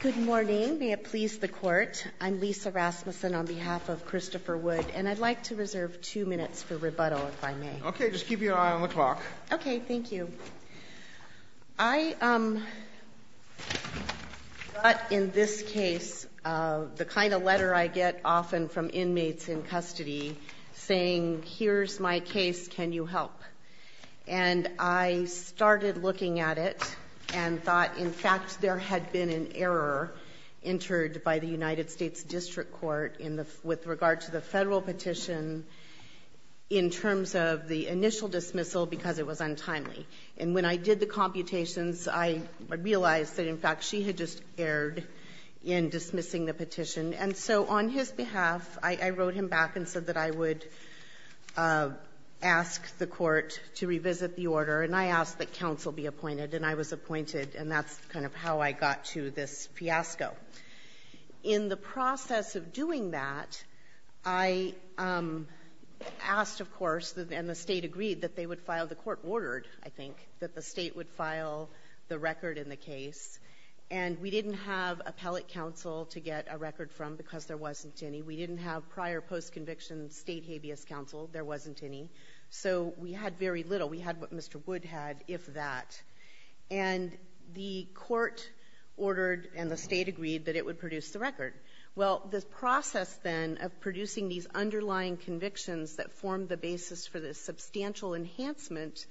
Good morning. May it please the court. I'm Lisa Rasmussen on behalf of Christopher Wood, and I'd like to reserve two minutes for rebuttal if I may. Okay, just keep your eye on the clock. Okay, thank you. I got in this case the kind of letter I get often from inmates in custody saying, here's my case, can you help? And I started looking at it and thought, in fact, there had been an error entered by the United States District Court with regard to the federal petition in terms of the initial dismissal because it was untimely. And when I did the computations, I realized that, in fact, she had just erred in dismissing the petition. And so on his behalf, I wrote him back and said that I would ask the court to revisit the order. And I asked that counsel be appointed, and I was appointed, and that's kind of how I got to this fiasco. In the process of doing that, I asked, of course, and the state agreed that they would file the court order, I think, that the state would file the record in the case. And we didn't have appellate counsel to get a record from because there wasn't any. We didn't have prior post-conviction state habeas counsel. There wasn't any. So we had very little. We had what Mr. Wood had, if that. And the court ordered and the state agreed that it would produce the record. Well, the process then of producing these underlying convictions that formed the basis for the substantial enhancement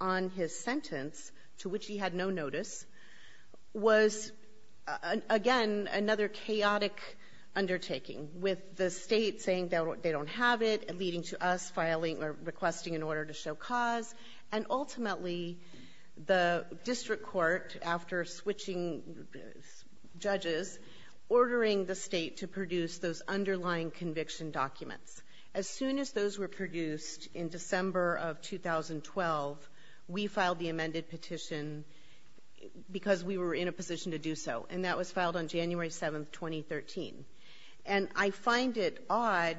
on his sentence, to which he had no notice, was, again, another chaotic undertaking with the state saying they don't have it and leading to us filing or requesting an order to show cause. And ultimately, the district court, after switching judges, ordering the state to produce those underlying conviction documents. As soon as those were produced in December of 2012, we filed the amended petition because we were in a position to do so. And that was filed on January 7, 2013. And I find it odd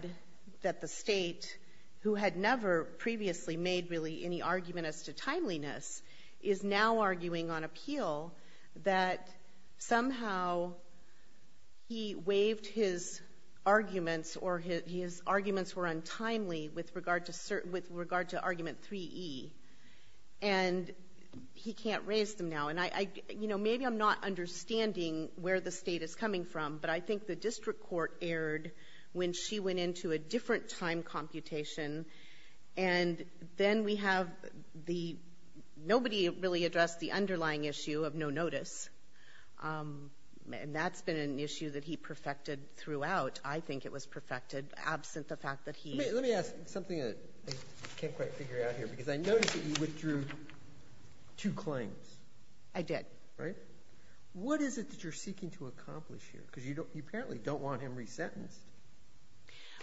that the state, who had never previously made really any argument as to timeliness, is now arguing on appeal that somehow he waived his arguments or his arguments were untimely with regard to argument 3E. And he can't raise them now. And maybe I'm not understanding where the state is coming from, but I think the district court erred when she went into a different time computation. And then we have the—nobody really addressed the underlying issue of no notice. And that's been an issue that he perfected throughout. I think it was perfected absent the fact that he— I did. Right? What is it that you're seeking to accomplish here? Because you apparently don't want him resentenced.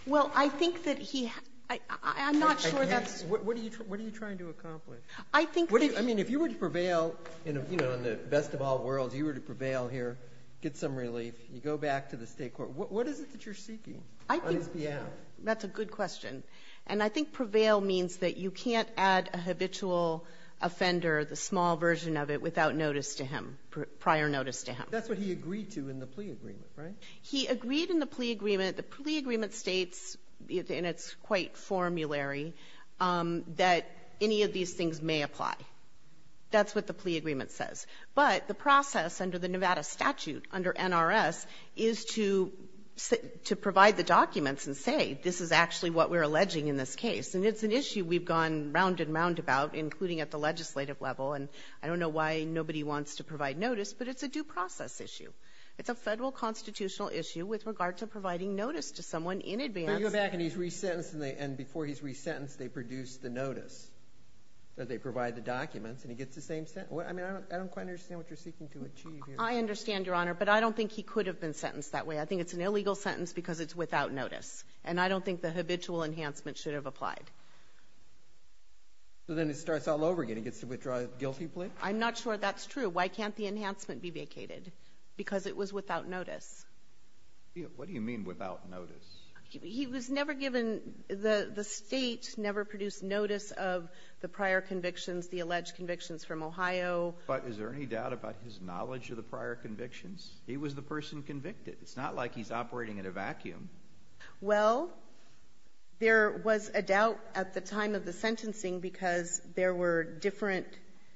Well, I think that he—I'm not sure that's— What are you trying to accomplish? I think that— I mean, if you were to prevail, you know, in the best of all worlds, you were to prevail here, get some relief, you go back to the state court. What is it that you're seeking on his behalf? That's a good question. And I think prevail means that you can't add a habitual offender, the small version of it, without notice to him, prior notice to him. That's what he agreed to in the plea agreement, right? He agreed in the plea agreement. The plea agreement states, and it's quite formulary, that any of these things may apply. That's what the plea agreement says. But the process under the Nevada statute, under NRS, is to provide the documents and say, this is actually what we're alleging in this case. And it's an issue we've gone round and round about, including at the legislative level. And I don't know why nobody wants to provide notice, but it's a due process issue. It's a federal constitutional issue with regard to providing notice to someone in advance. But you go back and he's resentenced, and before he's resentenced, they produce the notice. They provide the documents, and he gets the same sentence. I mean, I don't quite understand what you're seeking to achieve here. I understand, Your Honor, but I don't think he could have been sentenced that way. I think it's an illegal sentence because it's without notice. And I don't think the habitual enhancement should have applied. So then it starts all over again. He gets to withdraw his guilty plea? I'm not sure that's true. Why can't the enhancement be vacated? Because it was without notice. What do you mean without notice? He was never given – the state never produced notice of the prior convictions, the alleged convictions from Ohio. But is there any doubt about his knowledge of the prior convictions? He was the person convicted. It's not like he's operating in a vacuum. Well, there was a doubt at the time of the sentencing because there were different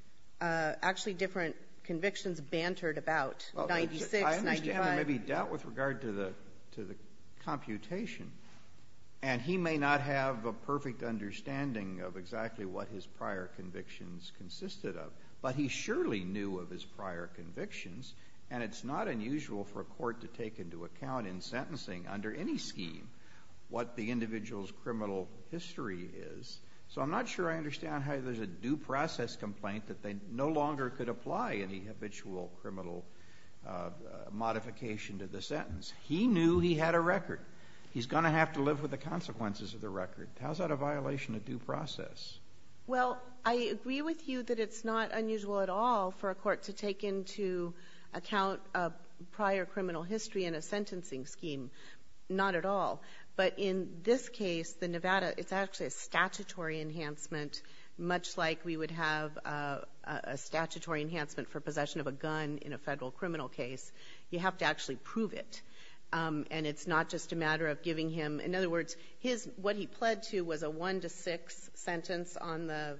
– actually, different convictions bantered about, 96, 95. There may be doubt with regard to the computation. And he may not have a perfect understanding of exactly what his prior convictions consisted of. But he surely knew of his prior convictions. And it's not unusual for a court to take into account in sentencing under any scheme what the individual's criminal history is. So I'm not sure I understand how there's a due process complaint that they no longer could apply any habitual criminal modification to the sentence. He knew he had a record. He's going to have to live with the consequences of the record. How is that a violation of due process? Well, I agree with you that it's not unusual at all for a court to take into account a prior criminal history in a sentencing scheme. Not at all. But in this case, the Nevada – it's actually a statutory enhancement, much like we would have a statutory enhancement for possession of a gun in a federal criminal case. You have to actually prove it. And it's not just a matter of giving him – in other words, what he pled to was a 1 to 6 sentence on the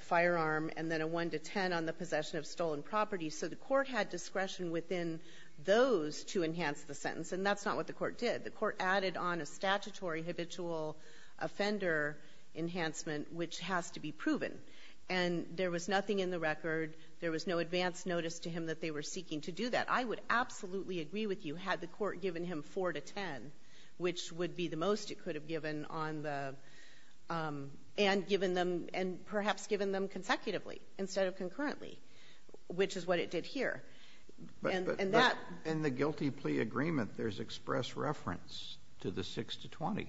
firearm and then a 1 to 10 on the possession of stolen property. So the court had discretion within those to enhance the sentence. And that's not what the court did. The court added on a statutory habitual offender enhancement, which has to be proven. And there was nothing in the record. There was no advance notice to him that they were seeking to do that. I would absolutely agree with you had the court given him 4 to 10, which would be the most it could have given on the – and given them – and perhaps given them consecutively instead of concurrently, which is what it did here. But in the guilty plea agreement, there's express reference to the 6 to 20.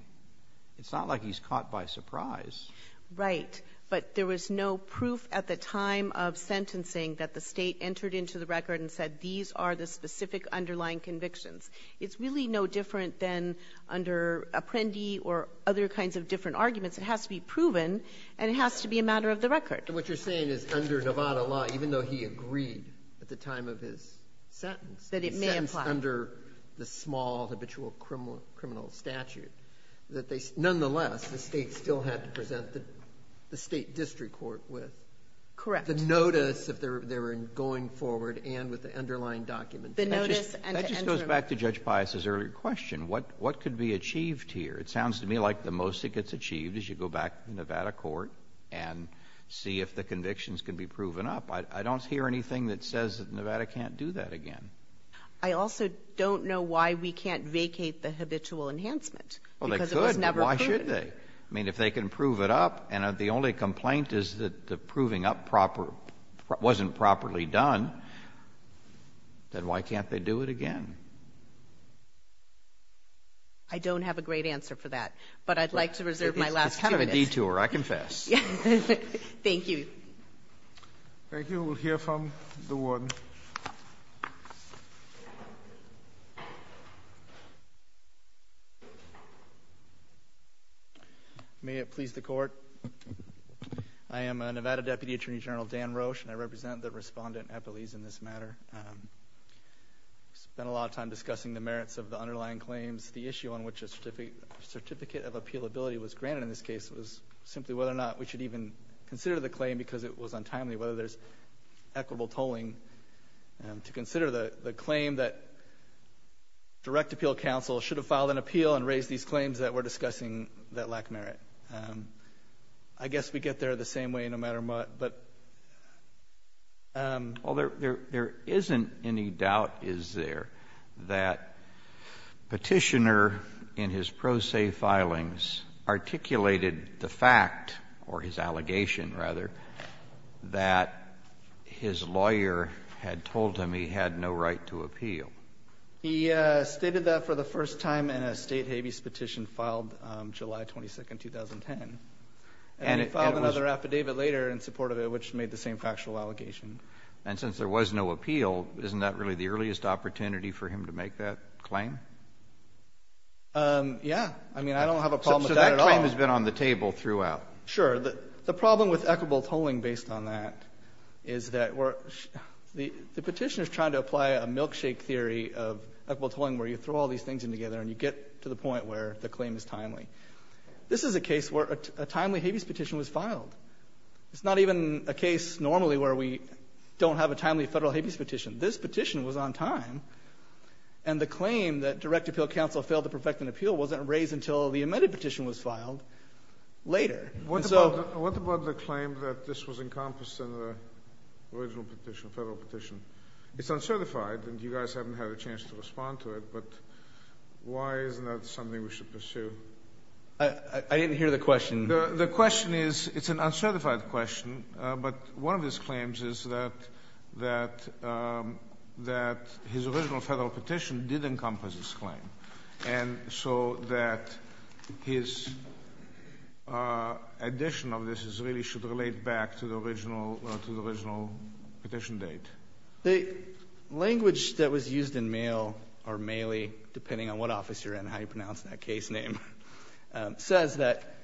It's not like he's caught by surprise. Right. But there was no proof at the time of sentencing that the state entered into the record and said these are the specific underlying convictions. It's really no different than under Apprendi or other kinds of different arguments. It has to be proven, and it has to be a matter of the record. And what you're saying is under Nevada law, even though he agreed at the time of his sentence – That it may apply. – under the small habitual criminal statute, that they – nonetheless, the state still had to present the state district court with – Correct. – the notice of their going forward and with the underlying documents. The notice and – That just goes back to Judge Pius's earlier question. What could be achieved here? It sounds to me like the most that gets achieved is you go back to the Nevada court and see if the convictions can be proven up. I don't hear anything that says that Nevada can't do that again. I also don't know why we can't vacate the habitual enhancement because it was never proven. Well, they could, but why should they? I mean, if they can prove it up and the only complaint is that the proving up wasn't properly done, then why can't they do it again? I don't have a great answer for that, but I'd like to reserve my last two minutes. It's kind of a detour. I confess. Thank you. Thank you. We'll hear from the warden. May it please the Court. I am a Nevada Deputy Attorney General, Dan Roche, and I represent the respondent at Belize in this matter. I spent a lot of time discussing the merits of the underlying claims. The issue on which a certificate of appealability was granted in this case was simply whether or not we should even consider the claim because it was untimely whether there's equitable tolling to consider the claim that direct appeal counsel should have filed an appeal and raised these claims that we're discussing that lack merit. I guess we get there the same way no matter what. Well, there isn't any doubt, is there, that Petitioner in his pro se filings articulated the fact, or his allegation rather, that his lawyer had told him he had no right to appeal. He stated that for the first time in a state habeas petition filed July 22, 2010. And he filed another affidavit later in support of it which made the same factual allegation. And since there was no appeal, isn't that really the earliest opportunity for him to make that claim? Yeah. I mean, I don't have a problem with that at all. So that claim has been on the table throughout. Sure. The problem with equitable tolling based on that is that the Petitioner is trying to apply a milkshake theory of equitable tolling where you throw all these things in together and you get to the point where the claim is timely. This is a case where a timely habeas petition was filed. It's not even a case normally where we don't have a timely federal habeas petition. This petition was on time. And the claim that direct appeal counsel failed to perfect an appeal wasn't raised until the amended petition was filed later. What about the claim that this was encompassed in the original petition, federal petition? It's uncertified and you guys haven't had a chance to respond to it, but why isn't that something we should pursue? I didn't hear the question. The question is, it's an uncertified question, but one of his claims is that his original federal petition did encompass this claim. And so that his addition of this really should relate back to the original petition date. The language that was used in Maley, depending on what office you're in and how you pronounce that case name, says that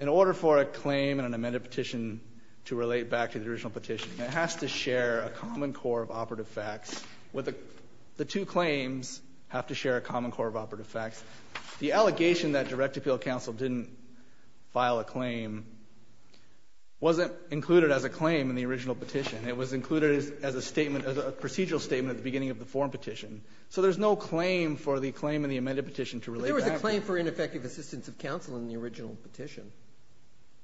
in order for a claim in an amended petition to relate back to the original petition, it has to share a common core of operative facts. The two claims have to share a common core of operative facts. The allegation that direct appeal counsel didn't file a claim wasn't included as a claim in the original petition. It was included as a procedural statement at the beginning of the forum petition. So there's no claim for the claim in the amended petition to relate back to the original petition. But there was a claim for ineffective assistance of counsel in the original petition.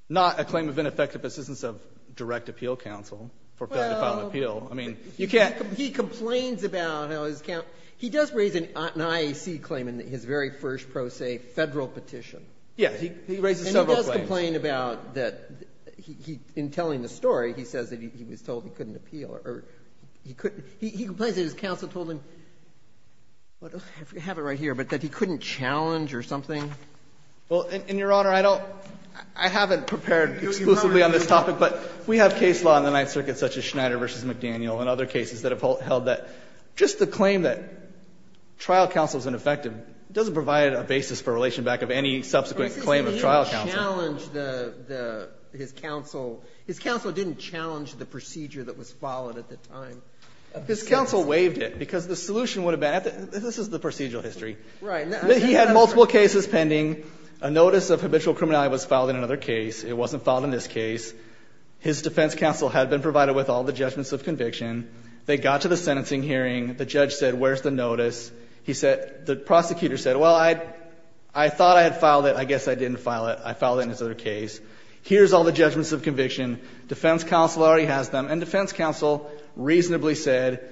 Not a claim of ineffective assistance of direct appeal counsel for failing to file an appeal. I mean, you can't— He complains about how his counsel—he does raise an IAC claim in his very first pro se federal petition. Yes. He raises several claims. And he does complain about that—in telling the story, he says that he was told he couldn't appeal or he couldn't—he complains that his counsel told him—I have it right here—but that he couldn't challenge or something. Well, and, Your Honor, I don't—I haven't prepared exclusively on this topic, but we have case law in the Ninth Circuit such as Schneider v. McDaniel and other cases that have held that just the claim that trial counsel is ineffective doesn't provide a basis for relation back of any subsequent claim of trial counsel. But his name challenged the—his counsel—his counsel didn't challenge the procedure that was followed at the time. His counsel waived it because the solution would have been—this is the procedural history. Right. He had multiple cases pending. A notice of habitual criminality was filed in another case. It wasn't filed in this case. His defense counsel had been provided with all the judgments of conviction. They got to the sentencing hearing. The judge said, where's the notice? He said—the prosecutor said, well, I thought I had filed it. I guess I didn't file it. I filed it in this other case. Here's all the judgments of conviction. Defense counsel already has them. And defense counsel reasonably said,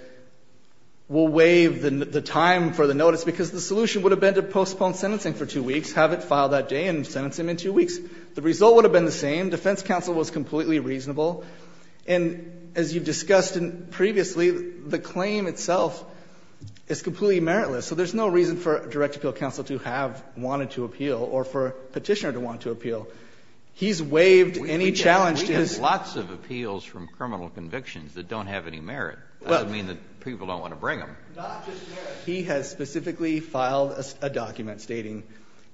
we'll waive the time for the notice because the solution would have been to postpone sentencing for two weeks, have it filed that day, and sentence him in two weeks. The result would have been the same. Defense counsel was completely reasonable. And as you've discussed previously, the claim itself is completely meritless. So there's no reason for direct appeal counsel to have wanted to appeal or for Petitioner to want to appeal. He's waived and he challenged his— Kennedy, we have lots of appeals from criminal convictions that don't have any merit. That doesn't mean that people don't want to bring them. Not just merit. He has specifically filed a document stating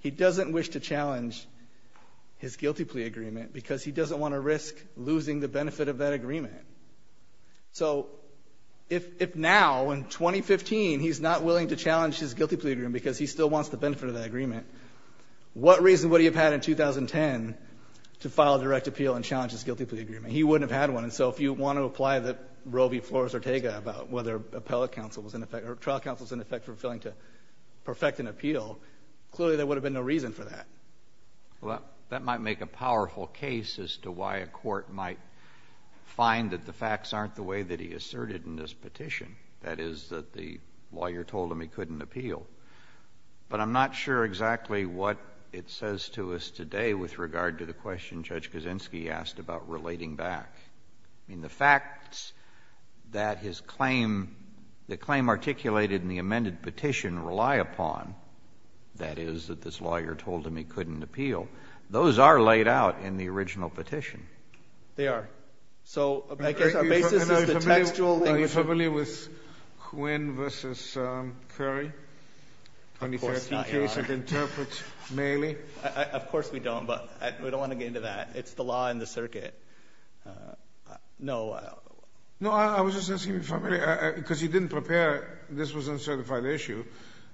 he doesn't wish to challenge his guilty plea agreement because he doesn't want to risk losing the benefit of that agreement. So if now, in 2015, he's not willing to challenge his guilty plea agreement because he still wants the benefit of that agreement, what reason would he have had in 2010 to file a direct appeal and challenge his guilty plea agreement? He wouldn't have had one. And so if you want to apply the Roe v. Flores Ortega about whether appellate counsel was in effect or trial counsel was in effect for failing to perfect an appeal, clearly there would have been no reason for that. Well, that might make a powerful case as to why a court might find that the facts aren't the way that he asserted in this petition. That is that the lawyer told him he couldn't appeal. But I'm not sure exactly what it says to us today with regard to the question Judge relating back. I mean, the facts that his claim, the claim articulated in the amended petition rely upon, that is, that this lawyer told him he couldn't appeal, those are laid out in the original petition. They are. So I guess our basis is the textual thing. Are you familiar with Quinn v. Curry? Of course not, Your Honor. 2013 case of interprets Mailey. Of course we don't, but we don't want to get into that. It's the law and the circuit. No. No, I was just asking if you're familiar, because you didn't prepare, this was an uncertified issue.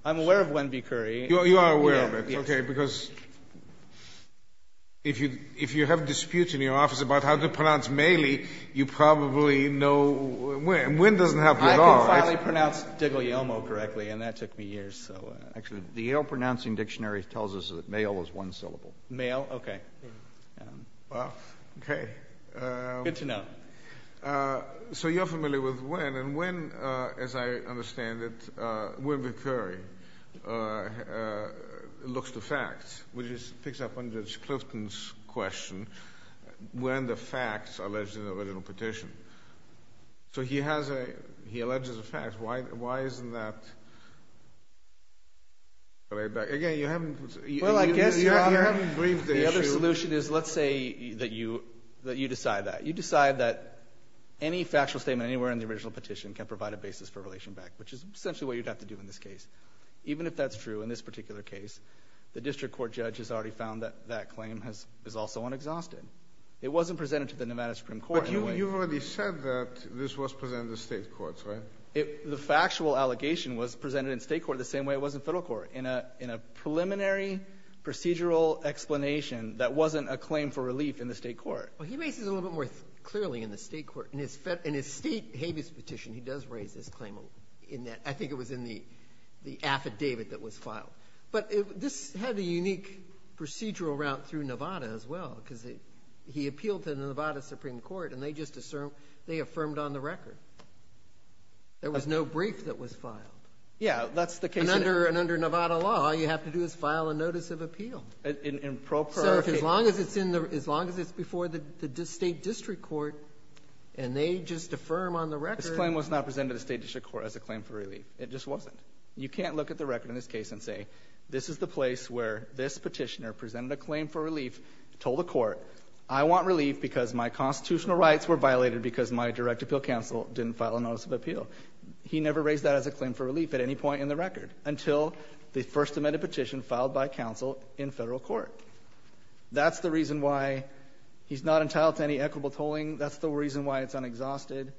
I'm aware of Quinn v. Curry. You are aware of it. Yes. Okay. Because if you have disputes in your office about how to pronounce Mailey, you probably know, and Quinn doesn't have to at all. I can finally pronounce DiGuglielmo correctly, and that took me years, so. Actually, the Yale Pronouncing Dictionary tells us that Maile is one syllable. Maile? Maile? Okay. Well, okay. Good to know. So you're familiar with Quinn, and Quinn, as I understand it, Quinn v. Curry looks to facts, which just picks up on Judge Clifton's question, when the facts are alleged in the original petition. So he has a, he alleges a fact. Again, you haven't. Well, I guess, Your Honor. I haven't briefed the issue. The other solution is, let's say that you decide that. You decide that any factual statement anywhere in the original petition can provide a basis for relation back, which is essentially what you'd have to do in this case. Even if that's true in this particular case, the district court judge has already found that that claim is also unexhausted. It wasn't presented to the Nevada Supreme Court in a way. But you've already said that this was presented to state courts, right? The factual allegation was presented in state court the same way it was in federal court. In a preliminary procedural explanation that wasn't a claim for relief in the state court. Well, he makes it a little bit more clearly in the state court. In his state habeas petition, he does raise this claim. I think it was in the affidavit that was filed. But this had a unique procedural route through Nevada as well, because he appealed to the Nevada Supreme Court, and they just affirmed on the record. There was no brief that was filed. Yeah, that's the case. And under Nevada law, all you have to do is file a notice of appeal. So as long as it's before the state district court, and they just affirm on the record. This claim was not presented to the state district court as a claim for relief. It just wasn't. You can't look at the record in this case and say, this is the place where this petitioner presented a claim for relief, told the court, I want relief because my constitutional rights were violated because my direct appeal counsel didn't file a notice of appeal. He never raised that as a claim for relief at any point in the record until the first amended petition filed by counsel in federal court. That's the reason why he's not entitled to any equitable tolling. That's the reason why it's unexhausted.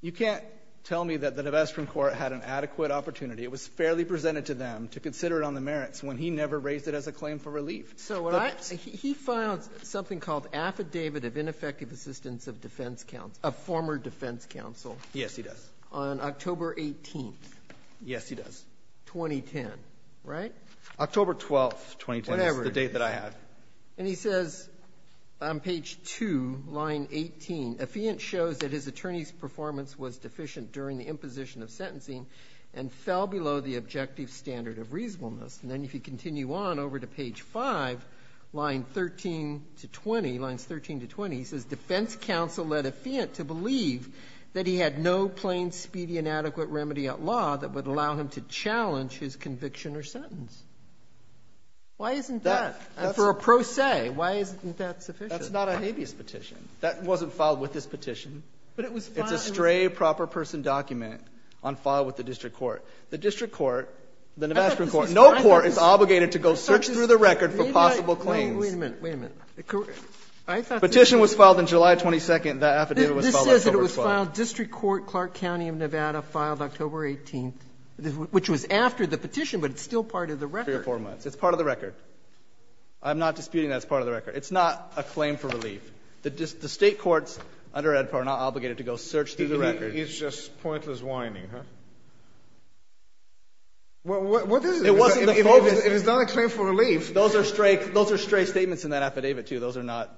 You can't tell me that the Nevada Supreme Court had an adequate opportunity. It was fairly presented to them to consider it on the merits when he never raised it as a claim for relief. So he filed something called affidavit of ineffective assistance of defense counsel, of former defense counsel. Yes, he does. On October 18th. Yes, he does. 2010. Right? October 12th, 2010. Whatever. That's the date that I have. And he says on page 2, line 18, Affiant shows that his attorney's performance was deficient during the imposition of sentencing and fell below the objective standard of reasonableness. And then if you continue on over to page 5, line 13 to 20, lines 13 to 20, he says defense counsel led Affiant to believe that he had no plain speedy and adequate remedy at law that would allow him to challenge his conviction or sentence. Why isn't that? And for a pro se, why isn't that sufficient? That's not a habeas petition. That wasn't filed with this petition. But it was filed in. It's a stray proper person document on file with the district court. The district court, the Nevada Supreme Court, no court is obligated to go search through the record for possible claims. Wait a minute. Wait a minute. Petition was filed in July 22nd. That affidavit was filed October 12th. This says that it was filed district court, Clark County of Nevada, filed October 18th, which was after the petition, but it's still part of the record. Three or four months. It's part of the record. I'm not disputing that it's part of the record. It's not a claim for relief. The state courts under EDPA are not obligated to go search through the record. It's just pointless whining, huh? Well, what is it? It wasn't the focus. It is not a claim for relief. Those are stray statements in that affidavit, too. Those are not.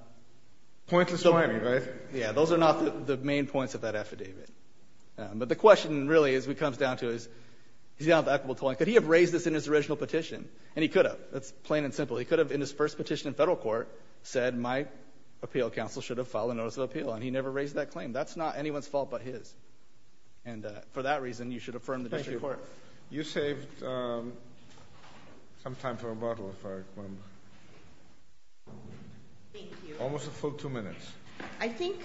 Pointless whining, right? Yeah. Those are not the main points of that affidavit. But the question, really, as it comes down to is, he's got an equitable claim. Could he have raised this in his original petition? And he could have. That's plain and simple. He could have, in his first petition in federal court, said my appeal counsel should have filed a notice of appeal, and he never raised that claim. That's not anyone's fault but his. And for that reason, you should affirm the district court. You saved some time for rebuttal, if I remember. Thank you. Almost a full two minutes. I think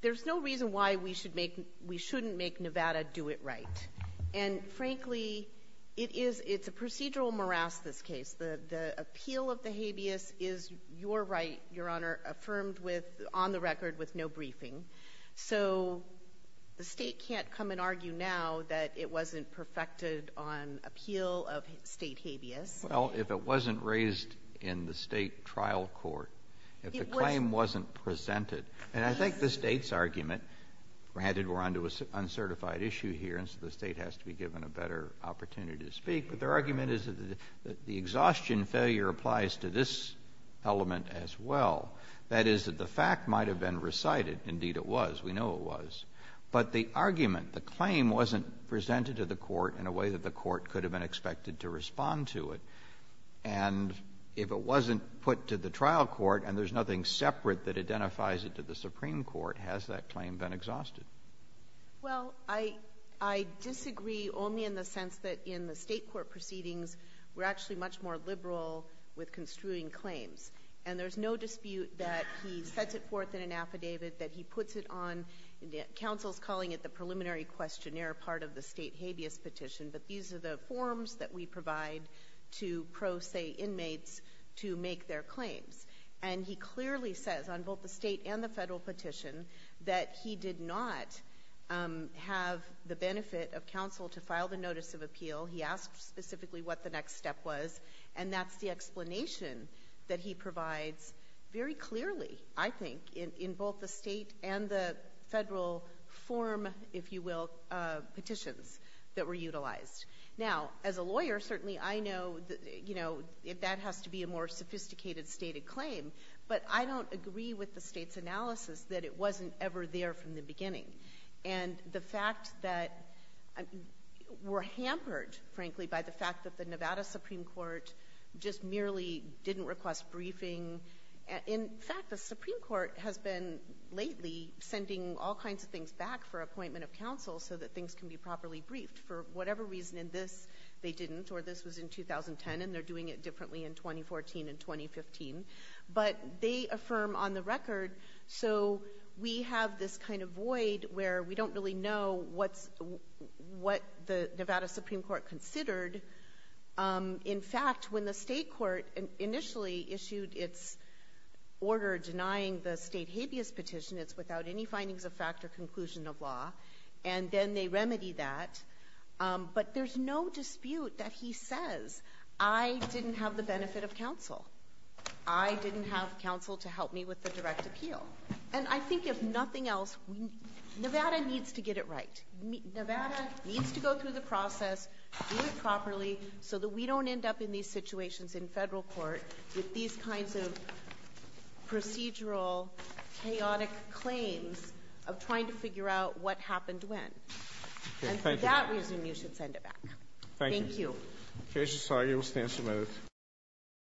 there's no reason why we shouldn't make Nevada do it right. And, frankly, it's a procedural morass, this case. The appeal of the habeas is your right, Your Honor, affirmed on the record with no briefing. So the state can't come and argue now that it wasn't perfected on appeal of state habeas. Well, if it wasn't raised in the state trial court, if the claim wasn't presented, and I think the state's argument, granted we're onto an uncertified issue here, and so the state has to be given a better opportunity to speak, but their argument is that the exhaustion failure applies to this element as well. That is, that the fact might have been recited. Indeed, it was. We know it was. But the argument, the claim wasn't presented to the court in a way that the court could have been expected to respond to it. And if it wasn't put to the trial court and there's nothing separate that identifies it to the Supreme Court, has that claim been exhausted? Well, I disagree only in the sense that in the state court proceedings, we're actually much more liberal with construing claims. And there's no dispute that he sets it forth in an affidavit, that he puts it on, counsel's calling it the preliminary questionnaire part of the state habeas petition, but these are the forms that we provide to pro se inmates to make their claims. And he clearly says on both the state and the federal petition that he did not have the benefit of counsel to file the notice of appeal. He asked specifically what the next step was, and that's the explanation that he provides very clearly, I think, in both the state and the federal form, if you will, petitions that were utilized. Now, as a lawyer, certainly I know that that has to be a more sophisticated stated claim, but I don't agree with the state's analysis that it wasn't ever there from the beginning. And the fact that we're hampered, frankly, by the fact that the Nevada Supreme Court just merely didn't request briefing. In fact, the Supreme Court has been lately sending all kinds of things back for appointment of counsel so that things can be properly briefed. For whatever reason in this, they didn't, or this was in 2010, and they're doing it differently in 2014 and 2015. But they affirm on the record, so we have this kind of void where we don't really know what the Nevada Supreme Court considered. In fact, when the state court initially issued its order denying the state habeas petition, it's without any findings of fact or conclusion of law, and then they remedy that. But there's no dispute that he says, I didn't have the benefit of counsel. I didn't have counsel to help me with the direct appeal. And I think if nothing else, Nevada needs to get it right. Nevada needs to go through the process, do it properly, so that we don't end up in these situations in federal court with these kinds of procedural, chaotic claims of trying to figure out what happened when. And for that reason, you should send it back. Thank you.